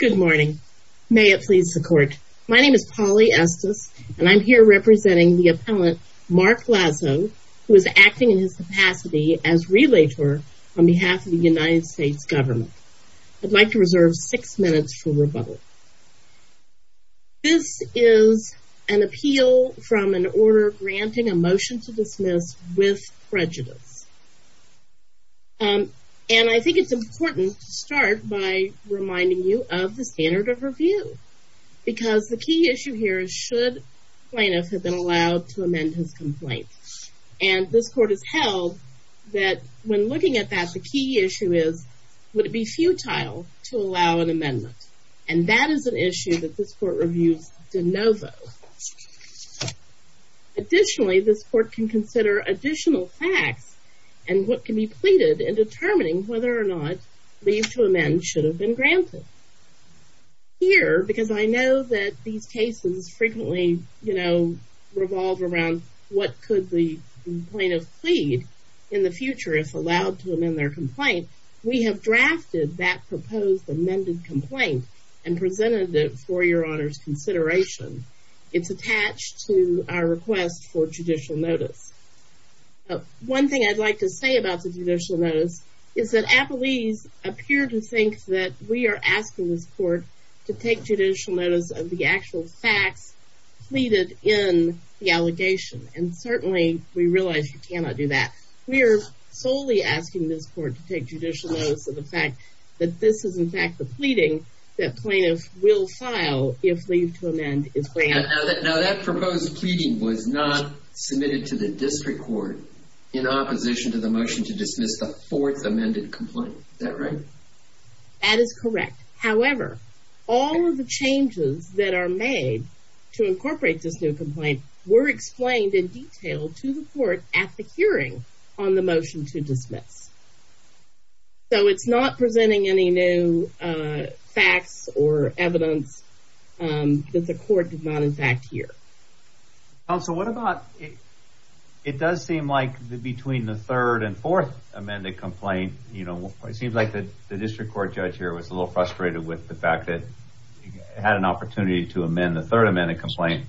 Good morning. May it please the court. My name is Polly Estes and I'm here representing the appellant Mark Lazo who is acting in his capacity as relator on behalf of the United States government. I'd like to reserve six minutes for rebuttal. This is an appeal from an order granting a motion to dismiss with prejudice. And I think it's important to start by reminding you of the standard of review because the key issue here is should plaintiff have been allowed to amend his complaint. And this court has held that when looking at that the key issue is would it be futile to allow an amendment. And that is an issue that this court reviews de novo. Additionally, this court can consider additional facts and what can be pleaded in determining whether or not leave to amend should have been granted. Here, because I know that these cases frequently, you know, revolve around what could the plaintiff plead in the future if allowed to amend their complaint, we have drafted that proposed amended complaint and presented it for your honors consideration. It's attached to our request for judicial notice. One thing I'd like to say about the judicial notice is that appellees appear to think that we are asking this court to take judicial notice of the actual facts pleaded in the allegation. And certainly we realize you cannot do that. We are solely asking this court to take judicial notice of the fact that this is in fact the pleading that plaintiff will file if leave to amend is granted. Now that proposed pleading was not submitted to the district court in opposition to the motion to dismiss the fourth amended complaint. Is that right? That is correct. However, all of the changes that are made to incorporate this new complaint were explained in detail to the court at the hearing on the motion to dismiss. So it's not presenting any new facts or evidence that the court did not in fact hear. Counsel, what about, it does seem like between the third and fourth amended complaint, you know, it seems like that the district court judge here was a little frustrated with the fact that he had an opportunity to amend the third amended complaint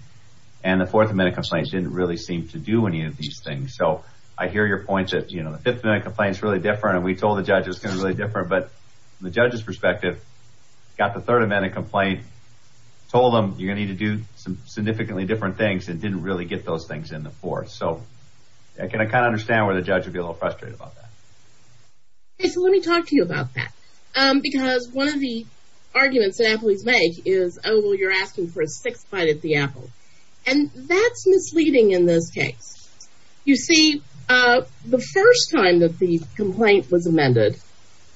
and the fourth amended complaint didn't really seem to do any of these things. So I hear your points that, you know, the fifth amended complaint is really different and we told the judge it was going to be really different. But from the judge's perspective, got the third amended complaint, told them you're going to need to do some significantly different things and didn't really get those things in the fourth. So I can kind of understand where the judge would be a little frustrated about that. Okay, so let me talk to you about that. Because one of the things that's misleading in this case, you see, the first time that the complaint was amended,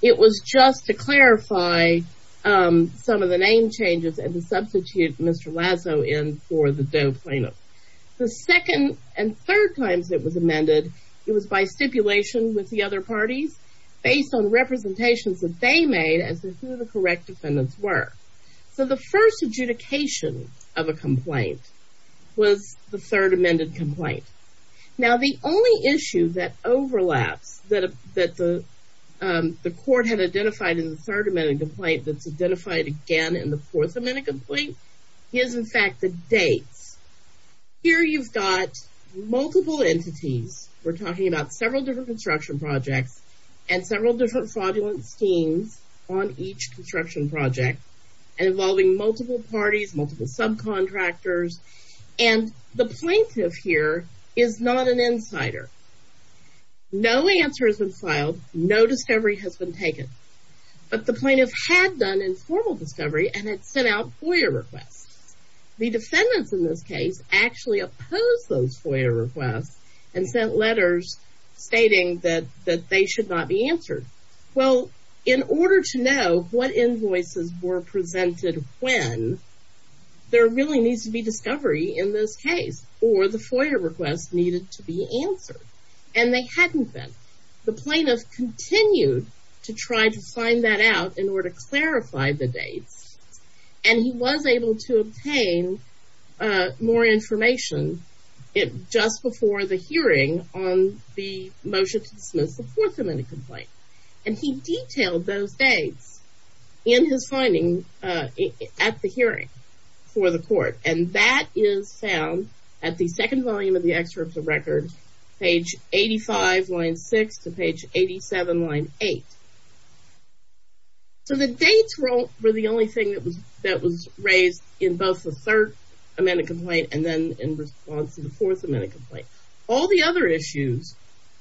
it was just to clarify some of the name changes and to substitute Mr. Lazo in for the Doe plaintiff. The second and third times it was amended, it was by stipulation with the other parties based on representations that they made as to who the correct defendants were. So the first adjudication of a complaint was the third amended complaint. Now the only issue that overlaps that the court had identified in the third amended complaint that's identified again in the fourth amended complaint is in fact the dates. Here you've got multiple entities. We're talking about several different construction projects and several different fraudulent schemes on each construction project involving multiple parties, multiple subcontractors, and the plaintiff here is not an insider. No answer has been filed. No discovery has been taken. But the plaintiff had done informal discovery and had sent out FOIA requests. The defendants in this case actually opposed those FOIA requests and sent letters stating that they should not be answered. Well, in order to know what invoices were presented when, there really needs to be discovery in this case or the FOIA requests needed to be answered. And they hadn't been. The plaintiff continued to try to find that out in order to clarify the dates. And he was able to obtain more information just before the hearing on the motion to dismiss the fourth amended complaint. And he detailed those dates in his finding at the hearing for the court. And that is found at the second volume of the excerpt of record, page 85, line 6 to page 87, line 8. So the dates were the only thing that was raised in both the third amended complaint and then in response to the fourth amended complaint. All the other issues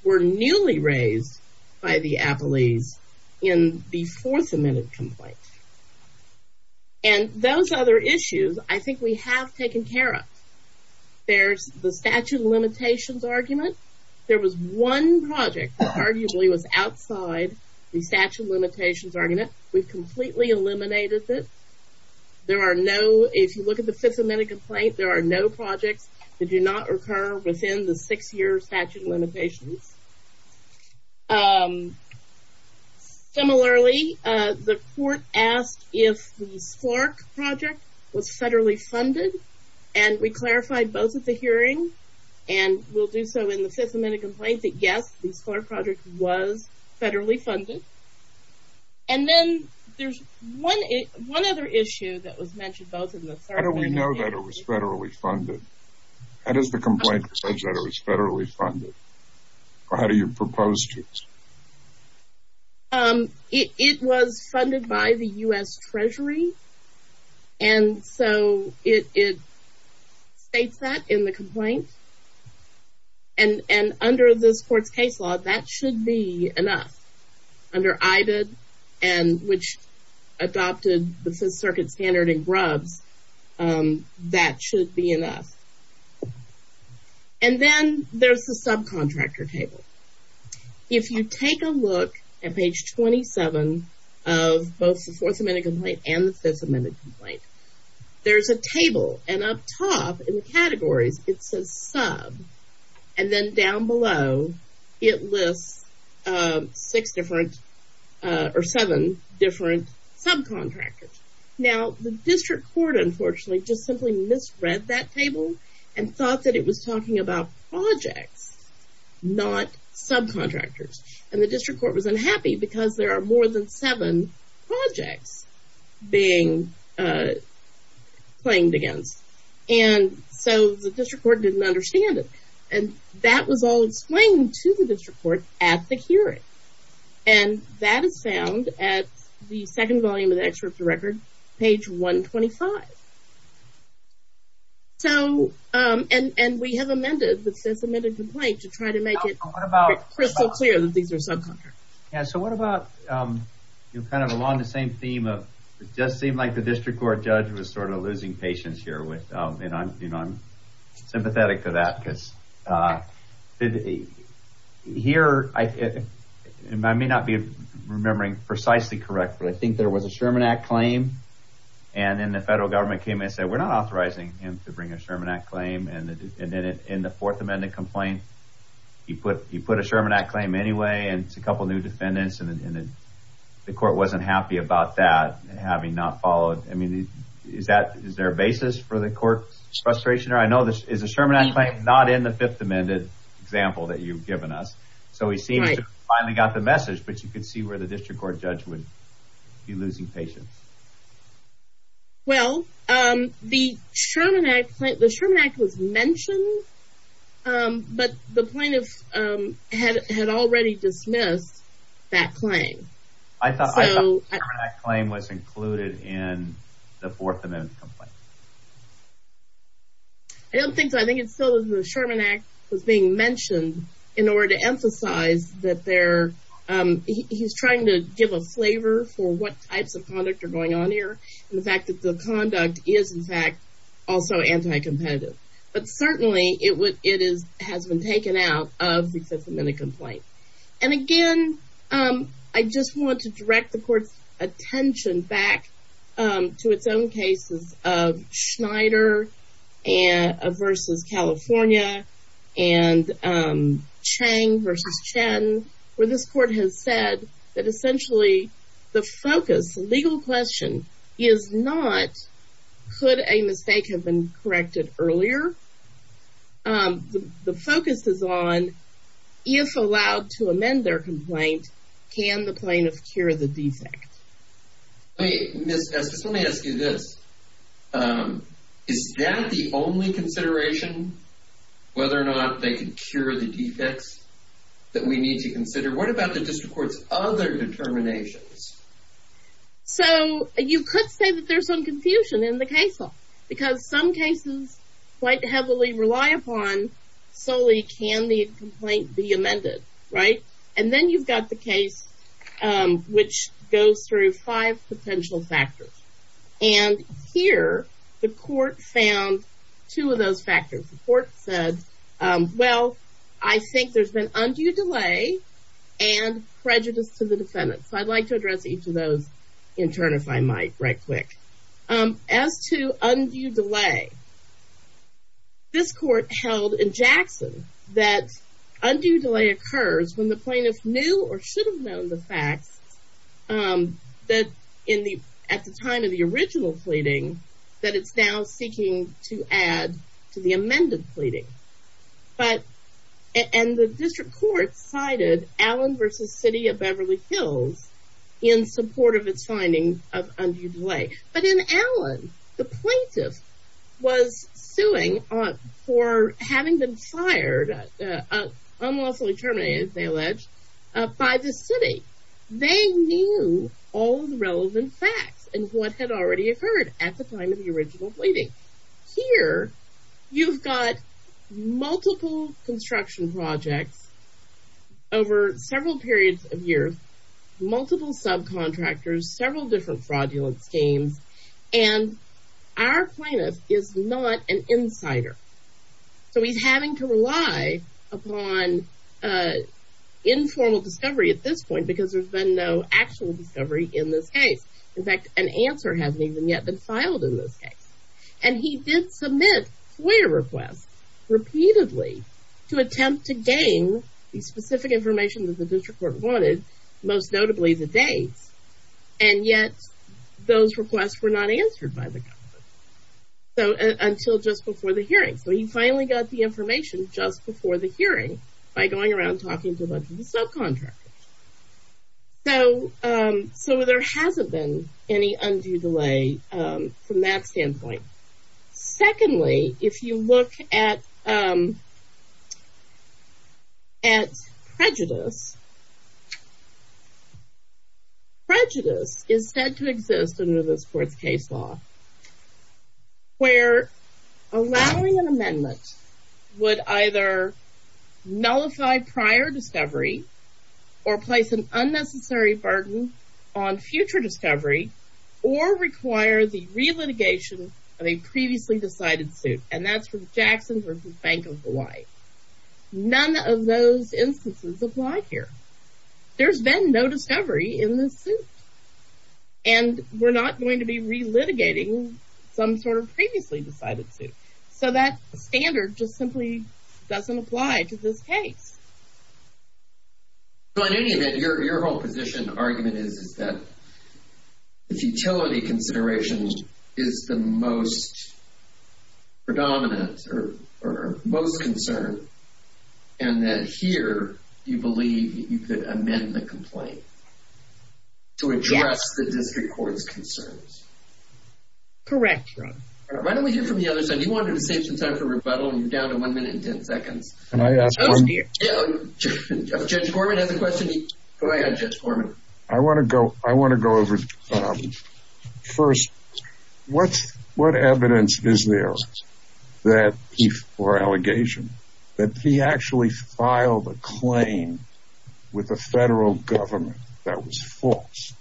were newly raised by the appellees in the fourth amended complaint. And those other issues, I think we have taken care of. There's the statute of limitations argument. There was one project that arguably was outside the statute of limitations argument. We've completely eliminated it. There are no, if you look at the fifth amended complaint, there are no projects that do not occur within the six-year statute of limitations. Similarly, the court asked if the Clark project was federally funded. And we clarified both at the hearing, and we'll do so in the fifth amended complaint, that yes, the Clark project was federally funded. And then there's one other issue that was mentioned both in the third and the fifth. How do we know that it was federally funded? How does the complaint say that it was federally funded? Or how do you propose to? It was funded by the U.S. Treasury. And so it states that in the complaint. And under this court's case law, that should be enough. Under IDA, which adopted the Fifth Circuit standard in grubs, that should be enough. And then there's the subcontractor table. If you take a look at page 27 of both the fourth amended complaint and the fifth amended complaint, there's a table. And up top in the categories, it says sub. And then down below, it lists six different or seven different subcontractors. Now, the district court, unfortunately, just simply misread that table and thought that it was talking about projects, not subcontractors. And the district court was unhappy because there are more than seven projects being claimed against. And so the district court didn't understand it. And that was all explained to the district court at the hearing. And that is found at the second volume of the excerpt of the record, page 125. So, and we have amended the fifth amended complaint to try to make it crystal clear that these are subcontractors. And so what about, you know, kind of along the same theme of, it just seemed like the district court judge was sort of losing patience here with, and I'm, you know, I'm sympathetic to that because here, I may not be remembering precisely correct, but I think there was a Sherman Act claim. And then the federal government came in and said, we're not authorizing him to bring a Sherman Act claim. And then in the fourth amended complaint, he put, he put a Sherman Act claim anyway, and it's a couple of new defendants and the court wasn't happy about that having not followed. I mean, is that, is there a basis for the court's frustration? Or I know this is a Sherman Act claim not in the fifth amended example that you've given us. So he seems to have finally got the message, but you could see where the district court judge would be losing patience. Well, the Sherman Act, the Sherman Act was mentioned, but the plaintiff had already dismissed that claim. I thought the Sherman Act claim was included in the fourth amended complaint. I don't think so. I think it's still the Sherman Act was being mentioned in order to emphasize that they're, he's trying to give a flavor for what types of conduct are going on here. And the fact that the conduct is in fact also anti-competitive, but certainly it would, it is, has been taken out of the fifth amended complaint. And again, I just want to direct the court's attention back to its own cases of Schneider versus California and Chang versus Chen, where this court has said that essentially the focus, the legal question is not, could a mistake have been corrected earlier? The focus is on if allowed to amend their complaint, can the plaintiff cure the defect? Ms. S, just let me ask you this. Is that the only consideration, whether or not they can cure the defects that we need to consider? What about the district court's other determinations? So you could say that there's some confusion in the case law because some cases quite heavily rely upon solely can the complaint be amended, right? And then you've got the case which goes through five potential factors. And here the court found two of those factors. The court said, well, I think there's been undue delay and prejudice to the defendant. So I'd like to address each of those in turn, if I might, right quick. As to undue delay, this court held in Jackson that undue delay occurs when the plaintiff knew or should have known the facts that in the, at the time of the original pleading, that it's now seeking to add to the amended pleading. But, and the district court cited Allen v. City of Beverly Hills in support of its finding of undue delay. But in Allen, the plaintiff was suing for having been fired, unlawfully terminated, they allege, by the city. They knew all the relevant facts and what had already occurred at the time of the original pleading. Here, you've got multiple construction projects over several periods of years, multiple subcontractors, several different fraudulent schemes, and our plaintiff is not an insider. So he's having to rely upon informal discovery at this point because there's been no actual discovery in this case. In fact, an answer hasn't even yet been filed in this case. And he did submit FOIA requests, repeatedly, to attempt to gain the specific information that the district court wanted, most notably the dates. And yet, those requests were not answered by the government. So, until just before the hearing. So he finally got the information just before the hearing by going around talking to a bunch of subcontractors. So, so there hasn't been any undue delay from that standpoint. Secondly, if you look at prejudice, prejudice is said to exist under this court's case law. Where allowing an amendment would either nullify prior discovery or place an unnecessary burden on future discovery or require the relitigation of a previously decided suit. And that's from Jackson versus Bank of Hawaii. None of those instances apply here. There's been no discovery in this suit. And we're not going to be relitigating some sort of previously decided suit. So that standard just simply doesn't apply to this case. So, in any event, your whole position, argument is that the futility consideration is the most predominant or most concerned. And that here, you believe you could amend the complaint to address the district court's concerns. Correct, Ron. Why don't we hear from the other side? You wanted to save some time for rebuttal and you're down to one minute and ten seconds. Can I ask one? Judge Gorman has a question. Go ahead, Judge Gorman. I want to go, I want to go over, first, what evidence is there that he, for allegation, that he actually filed a claim with the federal government that was false?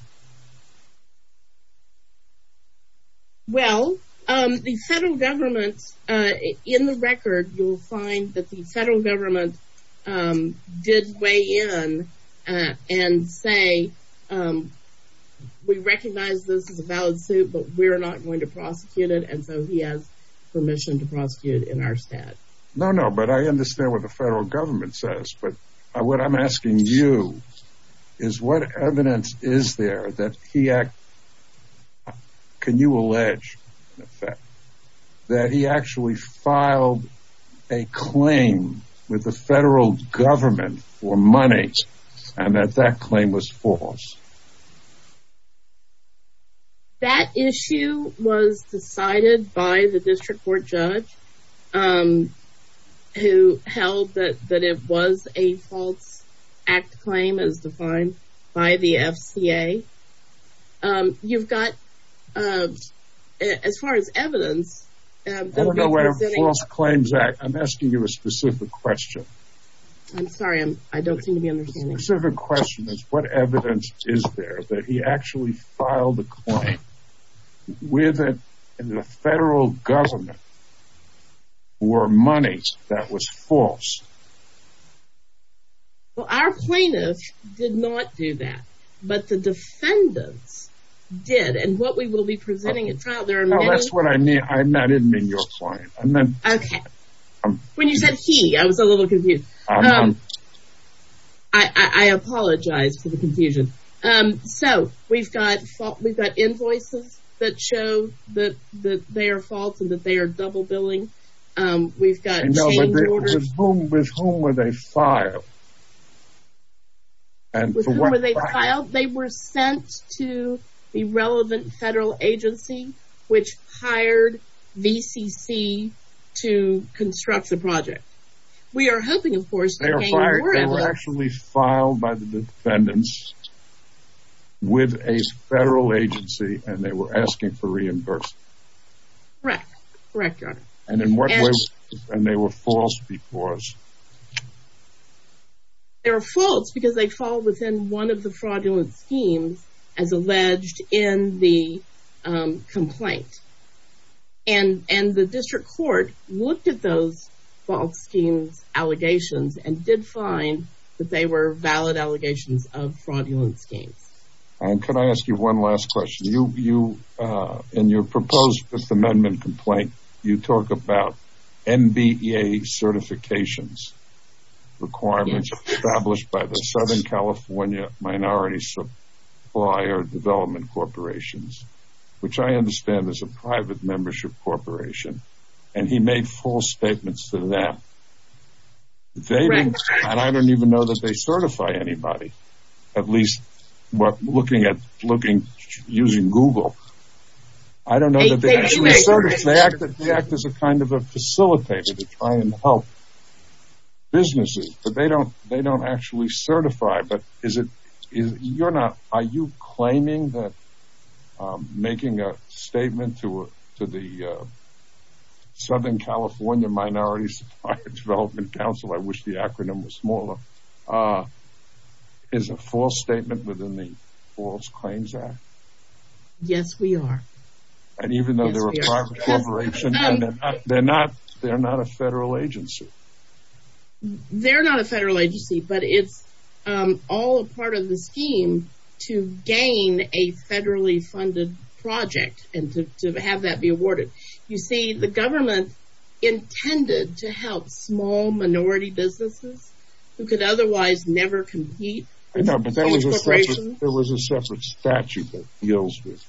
Well, the federal government, in the record, you'll find that the federal government did weigh in and say, we recognize this is a valid suit, but we're not going to prosecute it. And so he has permission to prosecute in our stat. No, no, but I understand what the federal government says, but what I'm asking you is what evidence is there that he, can you allege, in effect, that he actually filed a claim with the federal government for money and that that claim was false? That issue was decided by the district court judge, who held that it was a false act claim as defined by the FCA. You've got, as far as evidence, I don't know what a false claims act, I'm asking you a specific question. I'm sorry, I don't seem to be understanding. My specific question is, what evidence is there that he actually filed a claim with the federal government for money that was false? Well, our plaintiffs did not do that, but the defendants did, and what we will be presenting at trial, there are many... Oh, that's what I meant, I didn't mean your client. Okay, when you said he, I was a little confused. I apologize for the confusion. So, we've got invoices that show that they are false and that they are double billing. With whom were they filed? They were sent to the relevant federal agency, which hired VCC to construct the project. They were actually filed by the defendants with a federal agency and they were asking for reimbursement. Correct, correct your honor. And in what way were they false before us? They were false because they fall within one of the fraudulent schemes as alleged in the complaint. And the district court looked at those false schemes allegations and did find that they were valid allegations of fraudulent schemes. And can I ask you one last question? In your proposed Fifth Amendment complaint, you talk about NBEA certifications requirements established by the Southern California Minority Supplier Development Corporations, which I understand is a private membership corporation, and he made false statements to them. And I don't even know that they certify anybody, at least looking at using Google. I don't know that they actually certify. They act as a kind of a facilitator to try and help businesses, but they don't actually certify. Are you claiming that making a statement to the Southern California Minority Supplier Development Council, I wish the acronym was smaller, is a false statement within the False Claims Act? Yes, we are. And even though they're a private corporation, they're not a federal agency? They're not a federal agency, but it's all a part of the scheme to gain a federally funded project and to have that be awarded. You see, the government intended to help small minority businesses who could otherwise never compete. There was a separate statute that deals with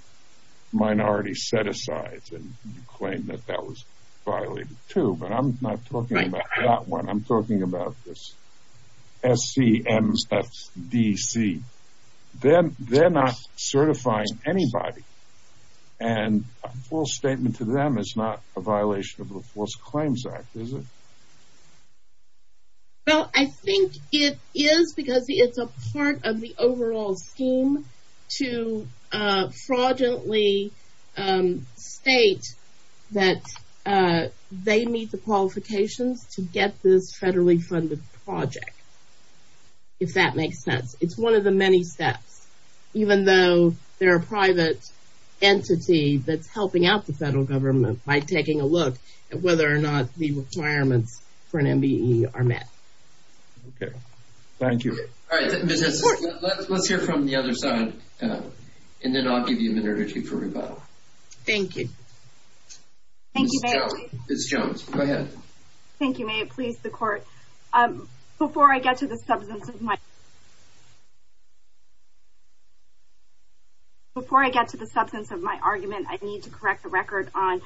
minority set-asides, and you claim that that was violated too, but I'm not talking about that one. I'm talking about this SCMFDC. They're not certifying anybody, and a false statement to them is not a violation of the False Claims Act, is it? Well, I think it is because it's a part of the overall scheme to fraudulently state that they meet the qualifications to get this federally funded project, if that makes sense. It's one of the many steps, even though they're a private entity that's helping out the federal government by taking a look at whether or not the requirements for an MBE are met. Okay, thank you. All right, Ms. Henson, let's hear from the other side, and then I'll give you a minute or two for rebuttal. Thank you. Ms. Jones, go ahead. Thank you. May it please the Court, before I get to the substance of my argument, I need to correct the record on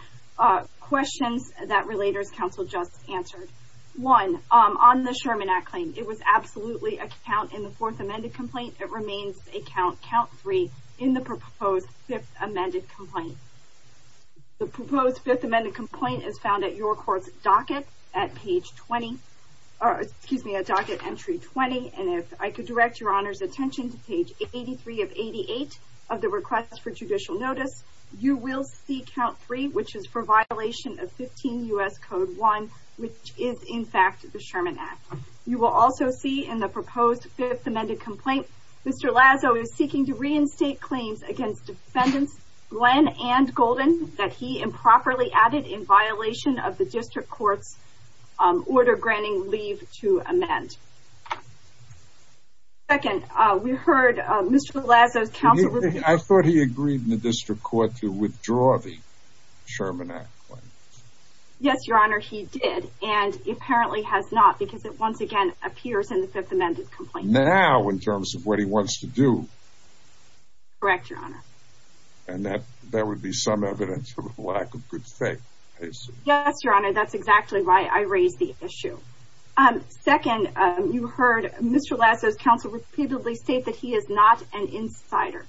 questions that Relators Counsel just answered. One, on the Sherman Act claim, it was absolutely a count in the Fourth Amended Complaint. It remains a count, count three, in the proposed Fifth Amended Complaint. The proposed Fifth Amended Complaint is found at your Court's docket at page 20, or, excuse me, at docket entry 20. And if I could direct your Honor's attention to page 83 of 88 of the Request for Judicial Notice, you will see count three, which is for violation of 15 U.S. Code 1, which is, in fact, the Sherman Act. You will also see, in the proposed Fifth Amended Complaint, Mr. Lazo is seeking to reinstate claims against Defendants Glenn and Golden that he improperly added in violation of the District Court's order granting leave to amend. Second, we heard Mr. Lazo's counsel- I thought he agreed in the District Court to withdraw the Sherman Act claim. Yes, your Honor, he did, and apparently has not, because it once again appears in the Fifth Amended Complaint. Now, in terms of what he wants to do? Correct, your Honor. And that would be some evidence of a lack of good faith, I assume. Yes, your Honor, that's exactly why I raised the issue. Second, you heard Mr. Lazo's counsel repeatedly state that he is not an insider.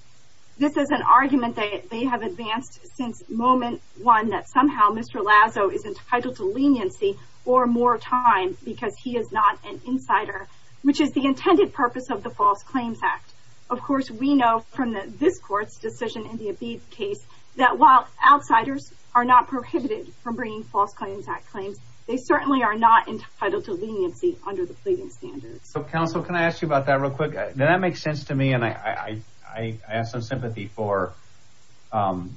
This is an argument that they have advanced since moment one, that somehow Mr. Lazo is entitled to leniency or more time because he is not an insider, which is the intended purpose of the False Claims Act. Of course, we know from this Court's decision in the Abebe case that while outsiders are not prohibited from bringing False Claims Act claims, they certainly are not entitled to leniency under the pleading standards. So, counsel, can I ask you about that real quick? That makes sense to me, and I have some sympathy for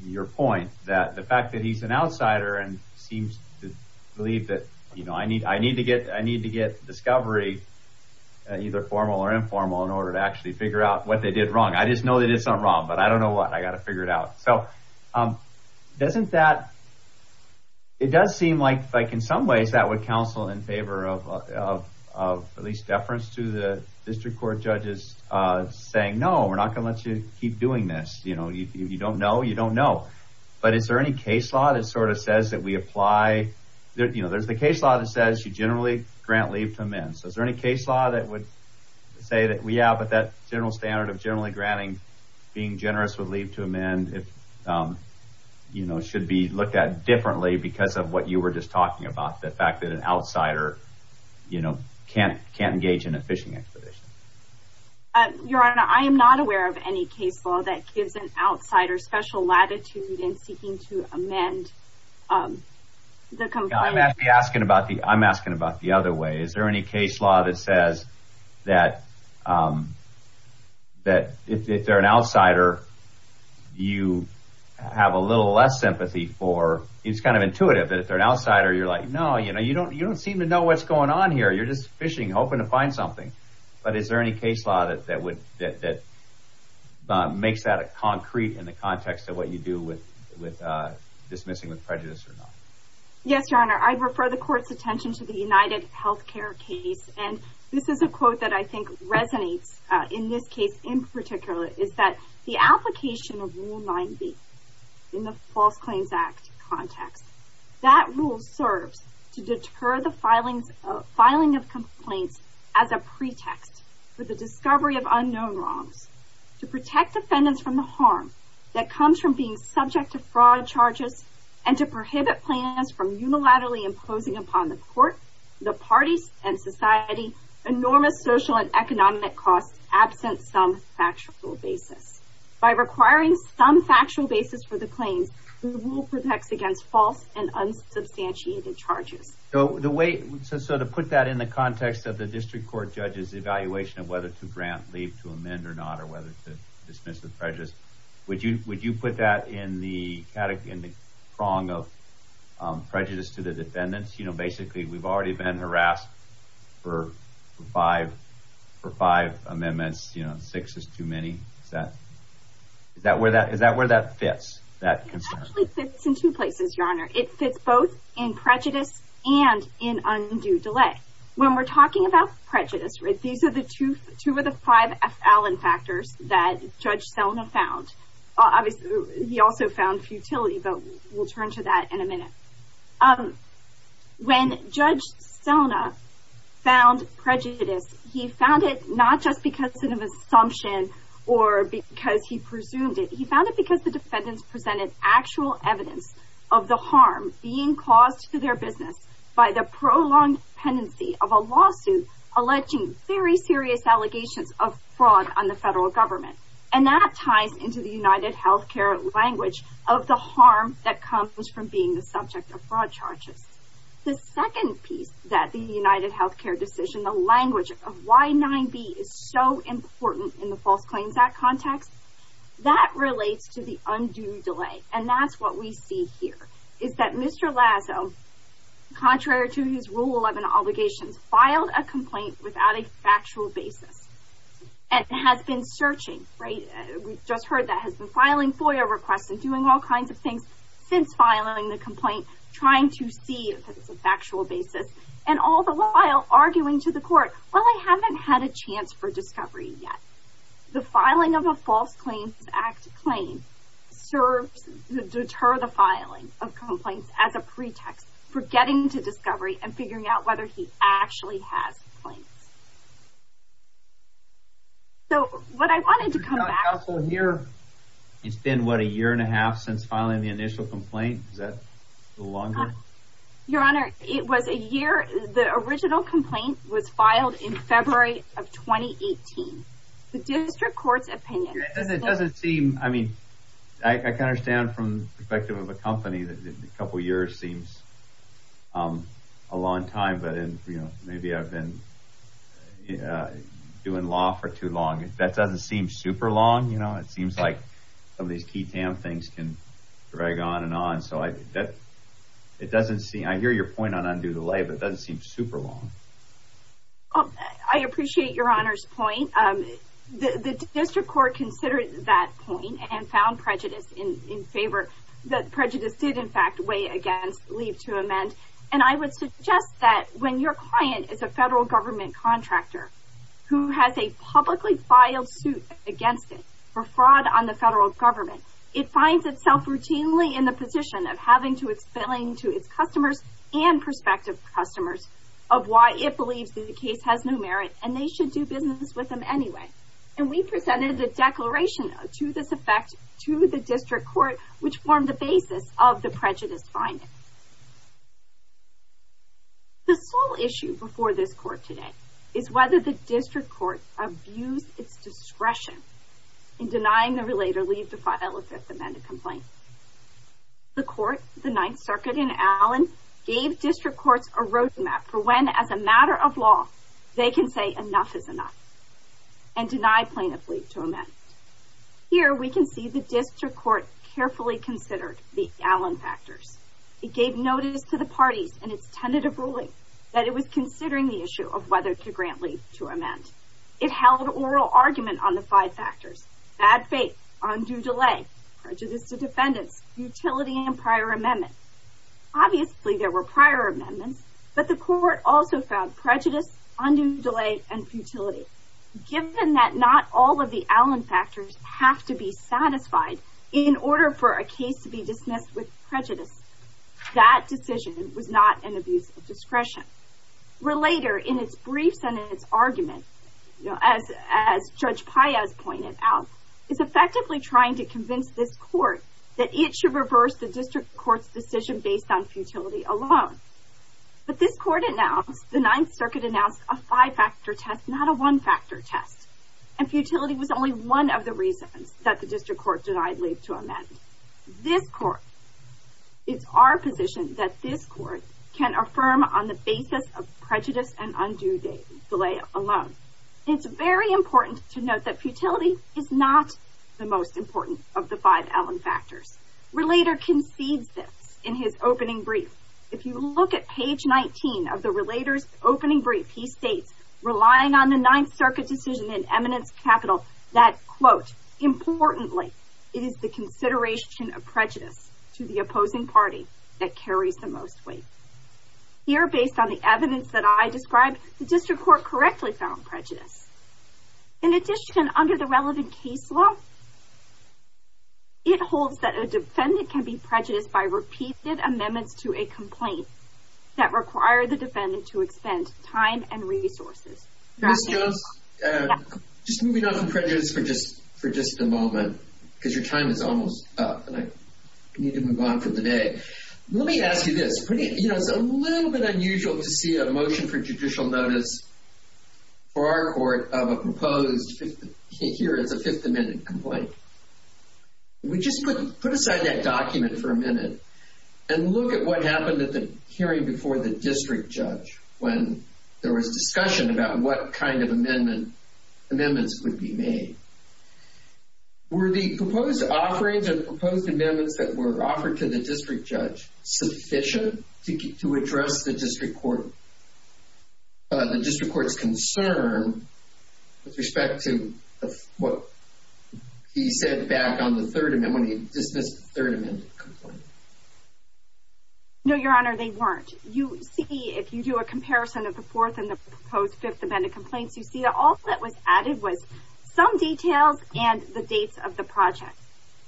your point that the fact that he's an outsider and seems to believe that I need to get discovery, either formal or informal, in order to actually figure out what they did wrong. I just know they did something wrong, but I don't know what. I've got to figure it out. It does seem like in some ways that would counsel in favor of at least deference to the district court judges saying, no, we're not going to let you keep doing this. If you don't know, you don't know. But is there any case law that says you generally grant leave to amend? Is there any case law that would say that, yeah, but that general standard of generally granting being generous with leave to amend should be looked at differently because of what you were just talking about, the fact that an outsider can't engage in a fishing expedition? Your Honor, I am not aware of any case law that gives an outsider special latitude in seeking to amend the complaint. I'm asking about the other way. Is there any case law that says that if they're an outsider, you have a little less sympathy for – it's kind of intuitive that if they're an outsider, you're like, no, you don't seem to know what's going on here. You're just fishing, hoping to find something. But is there any case law that makes that concrete in the context of what you do with dismissing with prejudice or not? Yes, Your Honor. I refer the Court's attention to the UnitedHealthcare case. And this is a quote that I think resonates in this case in particular, is that the application of Rule 9b in the False Claims Act context, that rule serves to deter the filing of complaints as a pretext for the discovery of unknown wrongs, to protect defendants from the harm that comes from being subject to fraud charges, and to prohibit plaintiffs from unilaterally imposing upon the Court, the parties, and society enormous social and economic costs absent some factual basis. By requiring some factual basis for the claims, the rule protects against false and unsubstantiated charges. So to put that in the context of the district court judge's evaluation of whether to grant leave to amend or not, or whether to dismiss with prejudice, would you put that in the prong of prejudice to the defendants? Basically, we've already been harassed for five amendments. Six is too many. Is that where that fits, that concern? It fits both in prejudice and in undue delay. When we're talking about prejudice, these are the two of the five Fallon factors that Judge Selna found. Obviously, he also found futility, but we'll turn to that in a minute. When Judge Selna found prejudice, he found it not just because of an assumption or because he presumed it. He found it because the defendants presented actual evidence of the harm being caused to their business by the prolonged pendency of a lawsuit alleging very serious allegations of fraud on the federal government. And that ties into the UnitedHealthcare language of the harm that comes from being the subject of fraud charges. The second piece that the UnitedHealthcare decision, the language of why 9B is so important in the False Claims Act context, that relates to the undue delay. And that's what we see here, is that Mr. Lazo, contrary to his Rule 11 obligations, filed a complaint without a factual basis. And has been searching, right? We just heard that. Has been filing FOIA requests and doing all kinds of things since filing the complaint, trying to see if it's a factual basis. And all the while, arguing to the court, well, I haven't had a chance for discovery yet. The filing of a False Claims Act claim serves to deter the filing of complaints as a pretext for getting to discovery and figuring out whether he actually has complaints. So, what I wanted to come back- Your Honor, counsel here, it's been, what, a year and a half since filing the initial complaint? Is that a little longer? Your Honor, it was a year. The original complaint was filed in February of 2018. The district court's opinion- It doesn't seem, I mean, I can understand from the perspective of a company that a couple years seems a long time. But, you know, maybe I've been doing law for too long. That doesn't seem super long, you know? It seems like some of these key TAM things can drag on and on. I hear your point on undue delay, but it doesn't seem super long. I appreciate Your Honor's point. The district court considered that point and found prejudice in favor. That prejudice did, in fact, weigh against leave to amend. And I would suggest that when your client is a federal government contractor who has a publicly filed suit against it for fraud on the federal government, it finds itself routinely in the position of having to explain to its customers and prospective customers of why it believes that the case has no merit, and they should do business with them anyway. And we presented a declaration to this effect to the district court, which formed the basis of the prejudice finding. The sole issue before this court today is whether the district court abused its discretion in denying the relator leave to file a Fifth Amendment complaint. The court, the Ninth Circuit in Allen, gave district courts a roadmap for when, as a matter of law, they can say enough is enough and deny plaintiff leave to amend. Here, we can see the district court carefully considered the Allen factors. It gave notice to the parties in its tentative ruling that it was considering the issue of whether to grant leave to amend. It held oral argument on the five factors, bad faith, undue delay, prejudice to defendants, futility, and prior amendment. Obviously, there were prior amendments, but the court also found prejudice, undue delay, and futility. Given that not all of the Allen factors have to be satisfied in order for a case to be dismissed with prejudice, that decision was not an abuse of discretion. Relator, in its briefs and in its argument, as Judge Paez pointed out, is effectively trying to convince this court that it should reverse the district court's decision based on futility alone. But this court announced, the Ninth Circuit announced, a five-factor test, not a one-factor test. And futility was only one of the reasons that the district court denied leave to amend. This court, it's our position that this court can affirm on the basis of prejudice and undue delay alone. It's very important to note that futility is not the most important of the five Allen factors. Relator concedes this in his opening brief. If you look at page 19 of the Relator's opening brief, he states, relying on the Ninth Circuit decision in eminence capital, that, quote, importantly, it is the consideration of prejudice to the opposing party that carries the most weight. Here, based on the evidence that I described, the district court correctly found prejudice. In addition, under the relevant case law, it holds that a defendant can be prejudiced by repeated amendments to a complaint that require the defendant to expend time and resources. Ms. Jones, just moving off of prejudice for just a moment, because your time is almost up and I need to move on for the day. Let me ask you this. You know, it's a little bit unusual to see a motion for judicial notice for our court of a proposed, here it's a Fifth Amendment complaint. We just put aside that document for a minute and look at what happened at the hearing before the district judge when there was discussion about what kind of amendments would be made. Were the proposed offerings and the proposed amendments that were offered to the district judge sufficient to address the district court's concern with respect to what he said back on the Third Amendment when he dismissed the Third Amendment complaint? No, Your Honor, they weren't. If you do a comparison of the Fourth and the proposed Fifth Amendment complaints, you see that all that was added was some details and the dates of the project.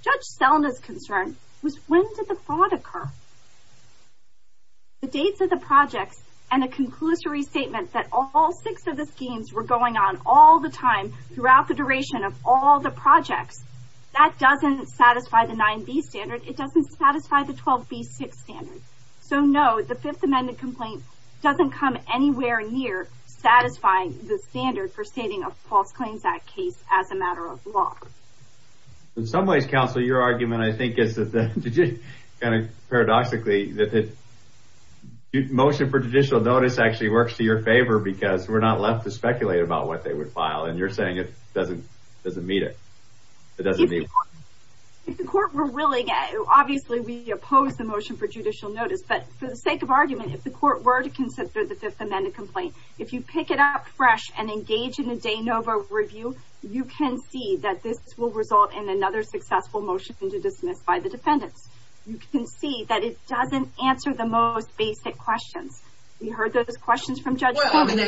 Judge Selma's concern was when did the fraud occur? The dates of the projects and a conclusory statement that all six of the schemes were going on all the time throughout the duration of all the projects, that doesn't satisfy the 9B standard. It doesn't satisfy the 12B6 standard. So, no, the Fifth Amendment complaint doesn't come anywhere near satisfying the standard for stating a False Claims Act case as a matter of law. In some ways, counsel, your argument, I think, is paradoxically that the motion for judicial notice actually works to your favor because we're not left to speculate about what they would file, and you're saying it doesn't meet it. If the court were willing, obviously we oppose the motion for judicial notice, but for the sake of argument, if the court were to consider the Fifth Amendment complaint, if you pick it up fresh and engage in a de novo review, you can see that this will result in another successful motion to dismiss by the defendants. You can see that it doesn't answer the most basic questions. We heard those questions from Judge Selma. What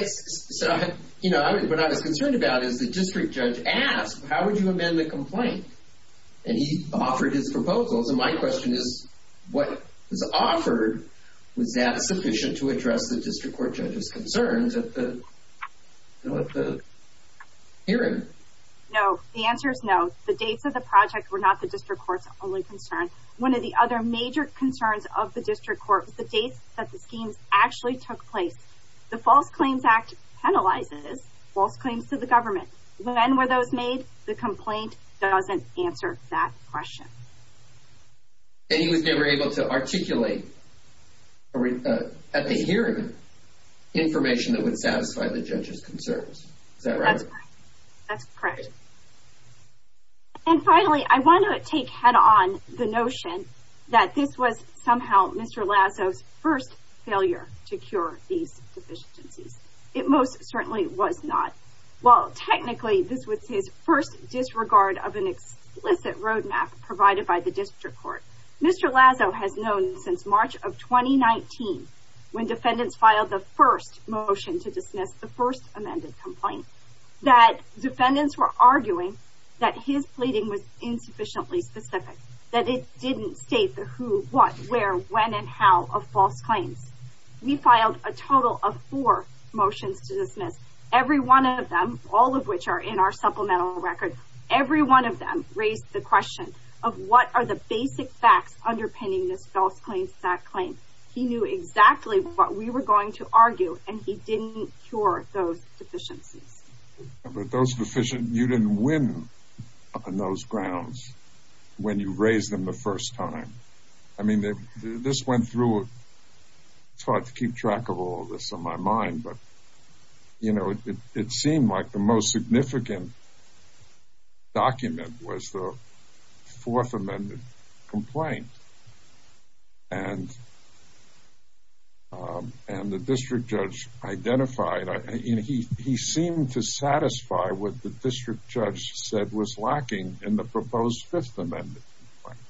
I was concerned about is the district judge asked, how would you amend the complaint? And he offered his proposals, and my question is, what was offered, was that sufficient to address the district court judge's concerns at the hearing? No, the answer is no. The dates of the project were not the district court's only concern. One of the other major concerns of the district court was the dates that the schemes actually took place. The False Claims Act penalizes false claims to the government. When were those made? The complaint doesn't answer that question. And he was never able to articulate at the hearing information that would satisfy the judge's concerns. Is that right? That's correct. And finally, I want to take head on the notion that this was somehow Mr. Lazo's first failure to cure these deficiencies. It most certainly was not. Well, technically, this was his first disregard of an explicit roadmap provided by the district court. Mr. Lazo has known since March of 2019, when defendants filed the first motion to dismiss the first amended complaint, that defendants were arguing that his pleading was insufficiently specific, that it didn't state the who, what, where, when, and how of false claims. We filed a total of four motions to dismiss. Every one of them, all of which are in our supplemental record, every one of them raised the question of what are the basic facts underpinning this False Claims Act claim. He knew exactly what we were going to argue, and he didn't cure those deficiencies. But those deficiencies, you didn't win on those grounds when you raised them the first time. I mean, this went through, it's hard to keep track of all this on my mind, but, you know, it seemed like the most significant document was the fourth amended complaint. And the district judge identified, he seemed to satisfy what the district judge said was lacking in the proposed fifth amended complaint.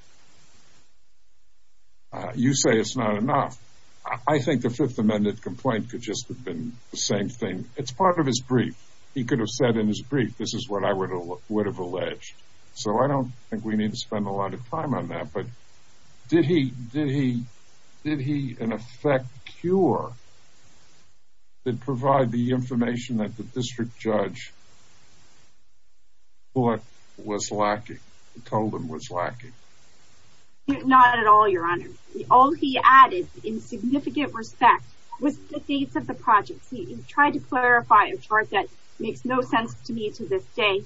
You say it's not enough. I think the fifth amended complaint could just have been the same thing. It's part of his brief. He could have said in his brief, this is what I would have alleged. So I don't think we need to spend a lot of time on that. But did he, did he, did he, in effect, cure, provide the information that the district judge thought was lacking, told him was lacking? Not at all, your honor. All he added, in significant respect, was the dates of the projects. He tried to clarify a chart that makes no sense to me to this day.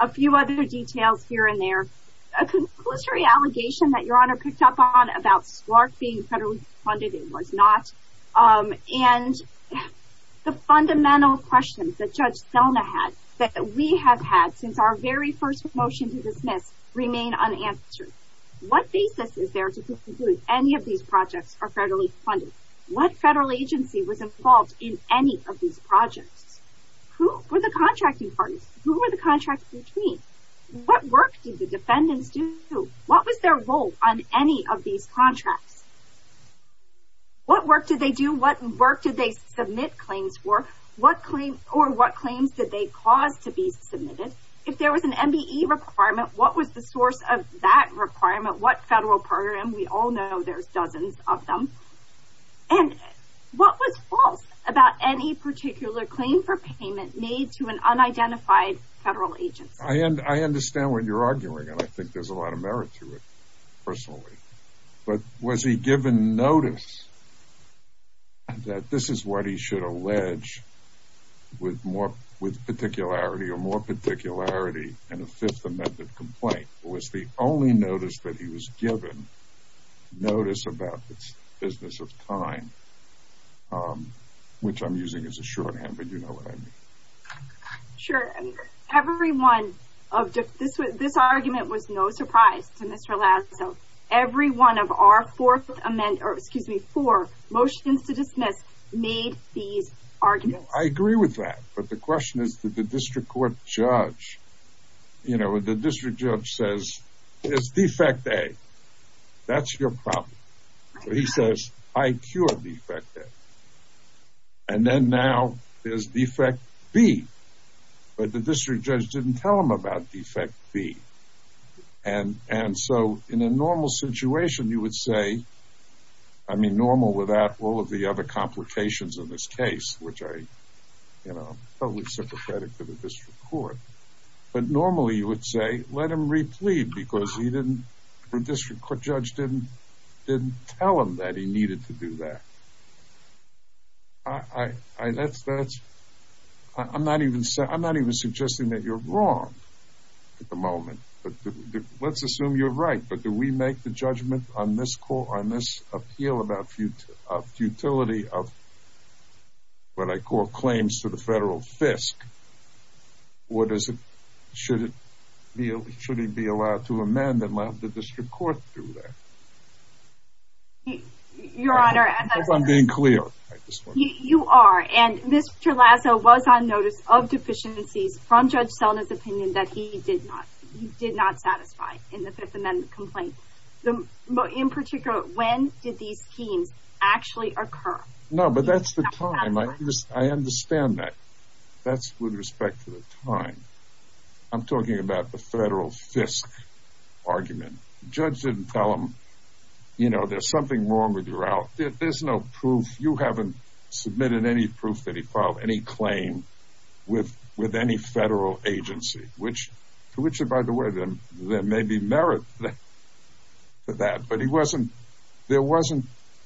A few other details here and there. A conclusory allegation that your honor picked up on about SLARC being federally funded, it was not. And the fundamental questions that Judge Selma had, that we have had since our very first motion to dismiss, remain unanswered. What basis is there to conclude any of these projects are federally funded? What federal agency was involved in any of these projects? Who were the contracting parties? Who were the contracts between? What work did the defendants do? What was their role on any of these contracts? What work did they do? What work did they submit claims for? What claims, or what claims did they cause to be submitted? If there was an MBE requirement, what was the source of that requirement? What federal program? We all know there's dozens of them. And what was false about any particular claim for payment made to an unidentified federal agency? I understand what you're arguing, and I think there's a lot of merit to it, personally. But was he given notice that this is what he should allege with particularity or more particularity in a Fifth Amendment complaint? Was the only notice that he was given notice about the business of time, which I'm using as a shorthand, but you know what I mean. Sure. This argument was no surprise to Mr. Lazo. Every one of our four motions to dismiss made these arguments. I agree with that. But the question is, did the district court judge, you know, the district judge says, there's defect A. That's your problem. He says, I cure defect A. And then now there's defect B. But the district judge didn't tell him about defect B. And so in a normal situation, you would say, I mean, normal without all of the other complications in this case, which I'm totally sympathetic to the district court. But normally you would say, let him replead because the district court judge didn't tell him that he needed to do that. I'm not even suggesting that you're wrong at the moment, but let's assume you're right. But do we make the judgment on this court, on this appeal about futility of what I call claims to the federal FISC? Or should he be allowed to amend and let the district court do that? Your Honor, as I'm being clear, you are. And Mr. Lazo was on notice of deficiencies from Judge Selna's opinion that he did not. He did not satisfy in the Fifth Amendment complaint. But in particular, when did these schemes actually occur? No, but that's the time. I understand that. That's with respect to the time. I'm talking about the federal FISC argument. The judge didn't tell him, you know, there's something wrong with your out. There's no proof. You haven't submitted any proof that he filed any claim with any federal agency. To which, by the way, there may be merit to that.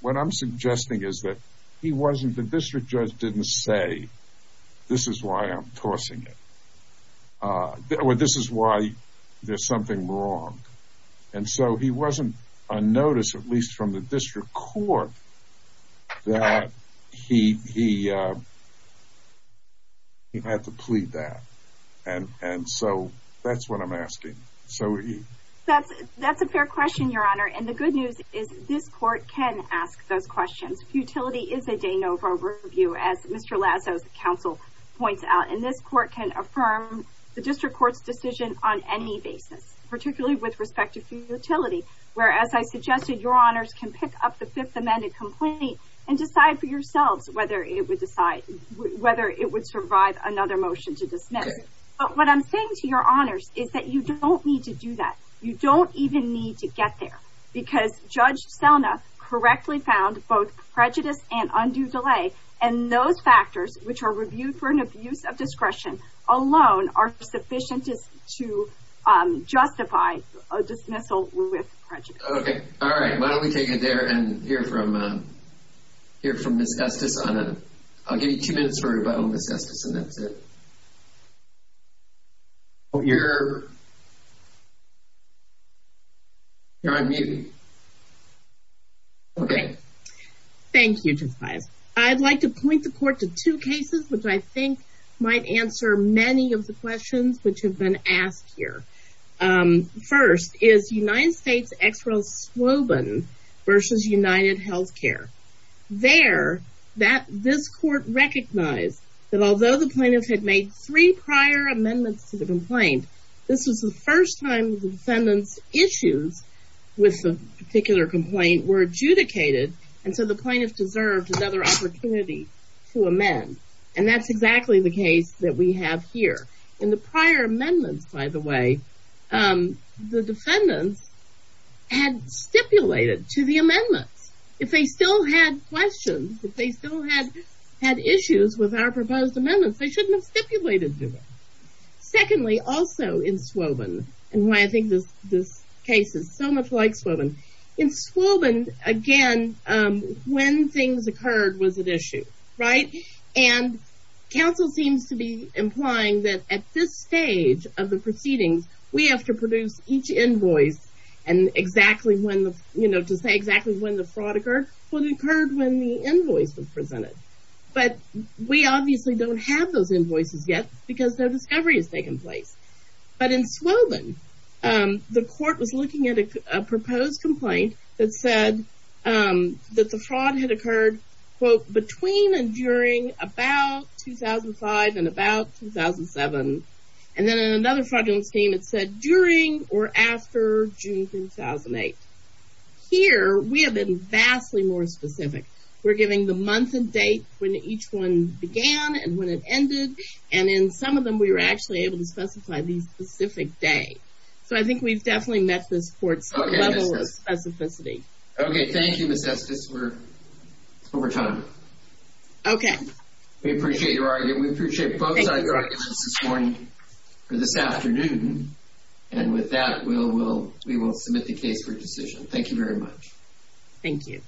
What I'm suggesting is that the district judge didn't say, this is why I'm tossing it. This is why there's something wrong. And so he wasn't on notice, at least from the district court, that he had to plead that. That's a fair question, Your Honor. And the good news is this court can ask those questions. Futility is a de novo review, as Mr. Lazo's counsel points out. And this court can affirm the district court's decision on any basis, particularly with respect to futility. Whereas I suggested Your Honors can pick up the Fifth Amendment complaint and decide for yourselves whether it would survive another motion to dismiss. But what I'm saying to Your Honors is that you don't need to do that. You don't even need to get there. Because Judge Selna correctly found both prejudice and undue delay. And those factors, which are reviewed for an abuse of discretion alone, are sufficient to justify a dismissal with prejudice. Okay, all right. Why don't we take it there and hear from Ms. Estes. I'll give you two minutes for a rebuttal, Ms. Estes, and that's it. You're on mute. Okay. Thank you, Justice Bias. I'd like to point the court to two cases which I think might answer many of the questions which have been asked here. First is United States Ex Rel Swoban versus United Healthcare. There, this court recognized that although the plaintiff had made three prior amendments to the complaint, this was the first time the defendant's issues with the particular complaint were adjudicated. And so the plaintiff deserved another opportunity to amend. And that's exactly the case that we have here. In the prior amendments, by the way, the defendants had stipulated to the amendments. If they still had questions, if they still had issues with our proposed amendments, they shouldn't have stipulated to them. Secondly, also in Swoban, and why I think this case is so much like Swoban. In Swoban, again, when things occurred was at issue, right? And counsel seems to be implying that at this stage of the proceedings, we have to produce each invoice to say exactly when the fraud occurred. Well, it occurred when the invoice was presented. But we obviously don't have those invoices yet because no discovery has taken place. But in Swoban, the court was looking at a proposed complaint that said that the fraud had occurred, quote, between and during about 2005 and about 2007. And then in another fraudulent scheme, it said during or after June 2008. Here, we have been vastly more specific. We're giving the month and date when each one began and when it ended. And in some of them, we were actually able to specify the specific day. So I think we've definitely met this court's level of specificity. Okay, thank you, Ms. Estes. We're over time. Okay. We appreciate your argument. We appreciate both sides' arguments this morning or this afternoon. And with that, we will submit the case for decision. Thank you very much. Thank you.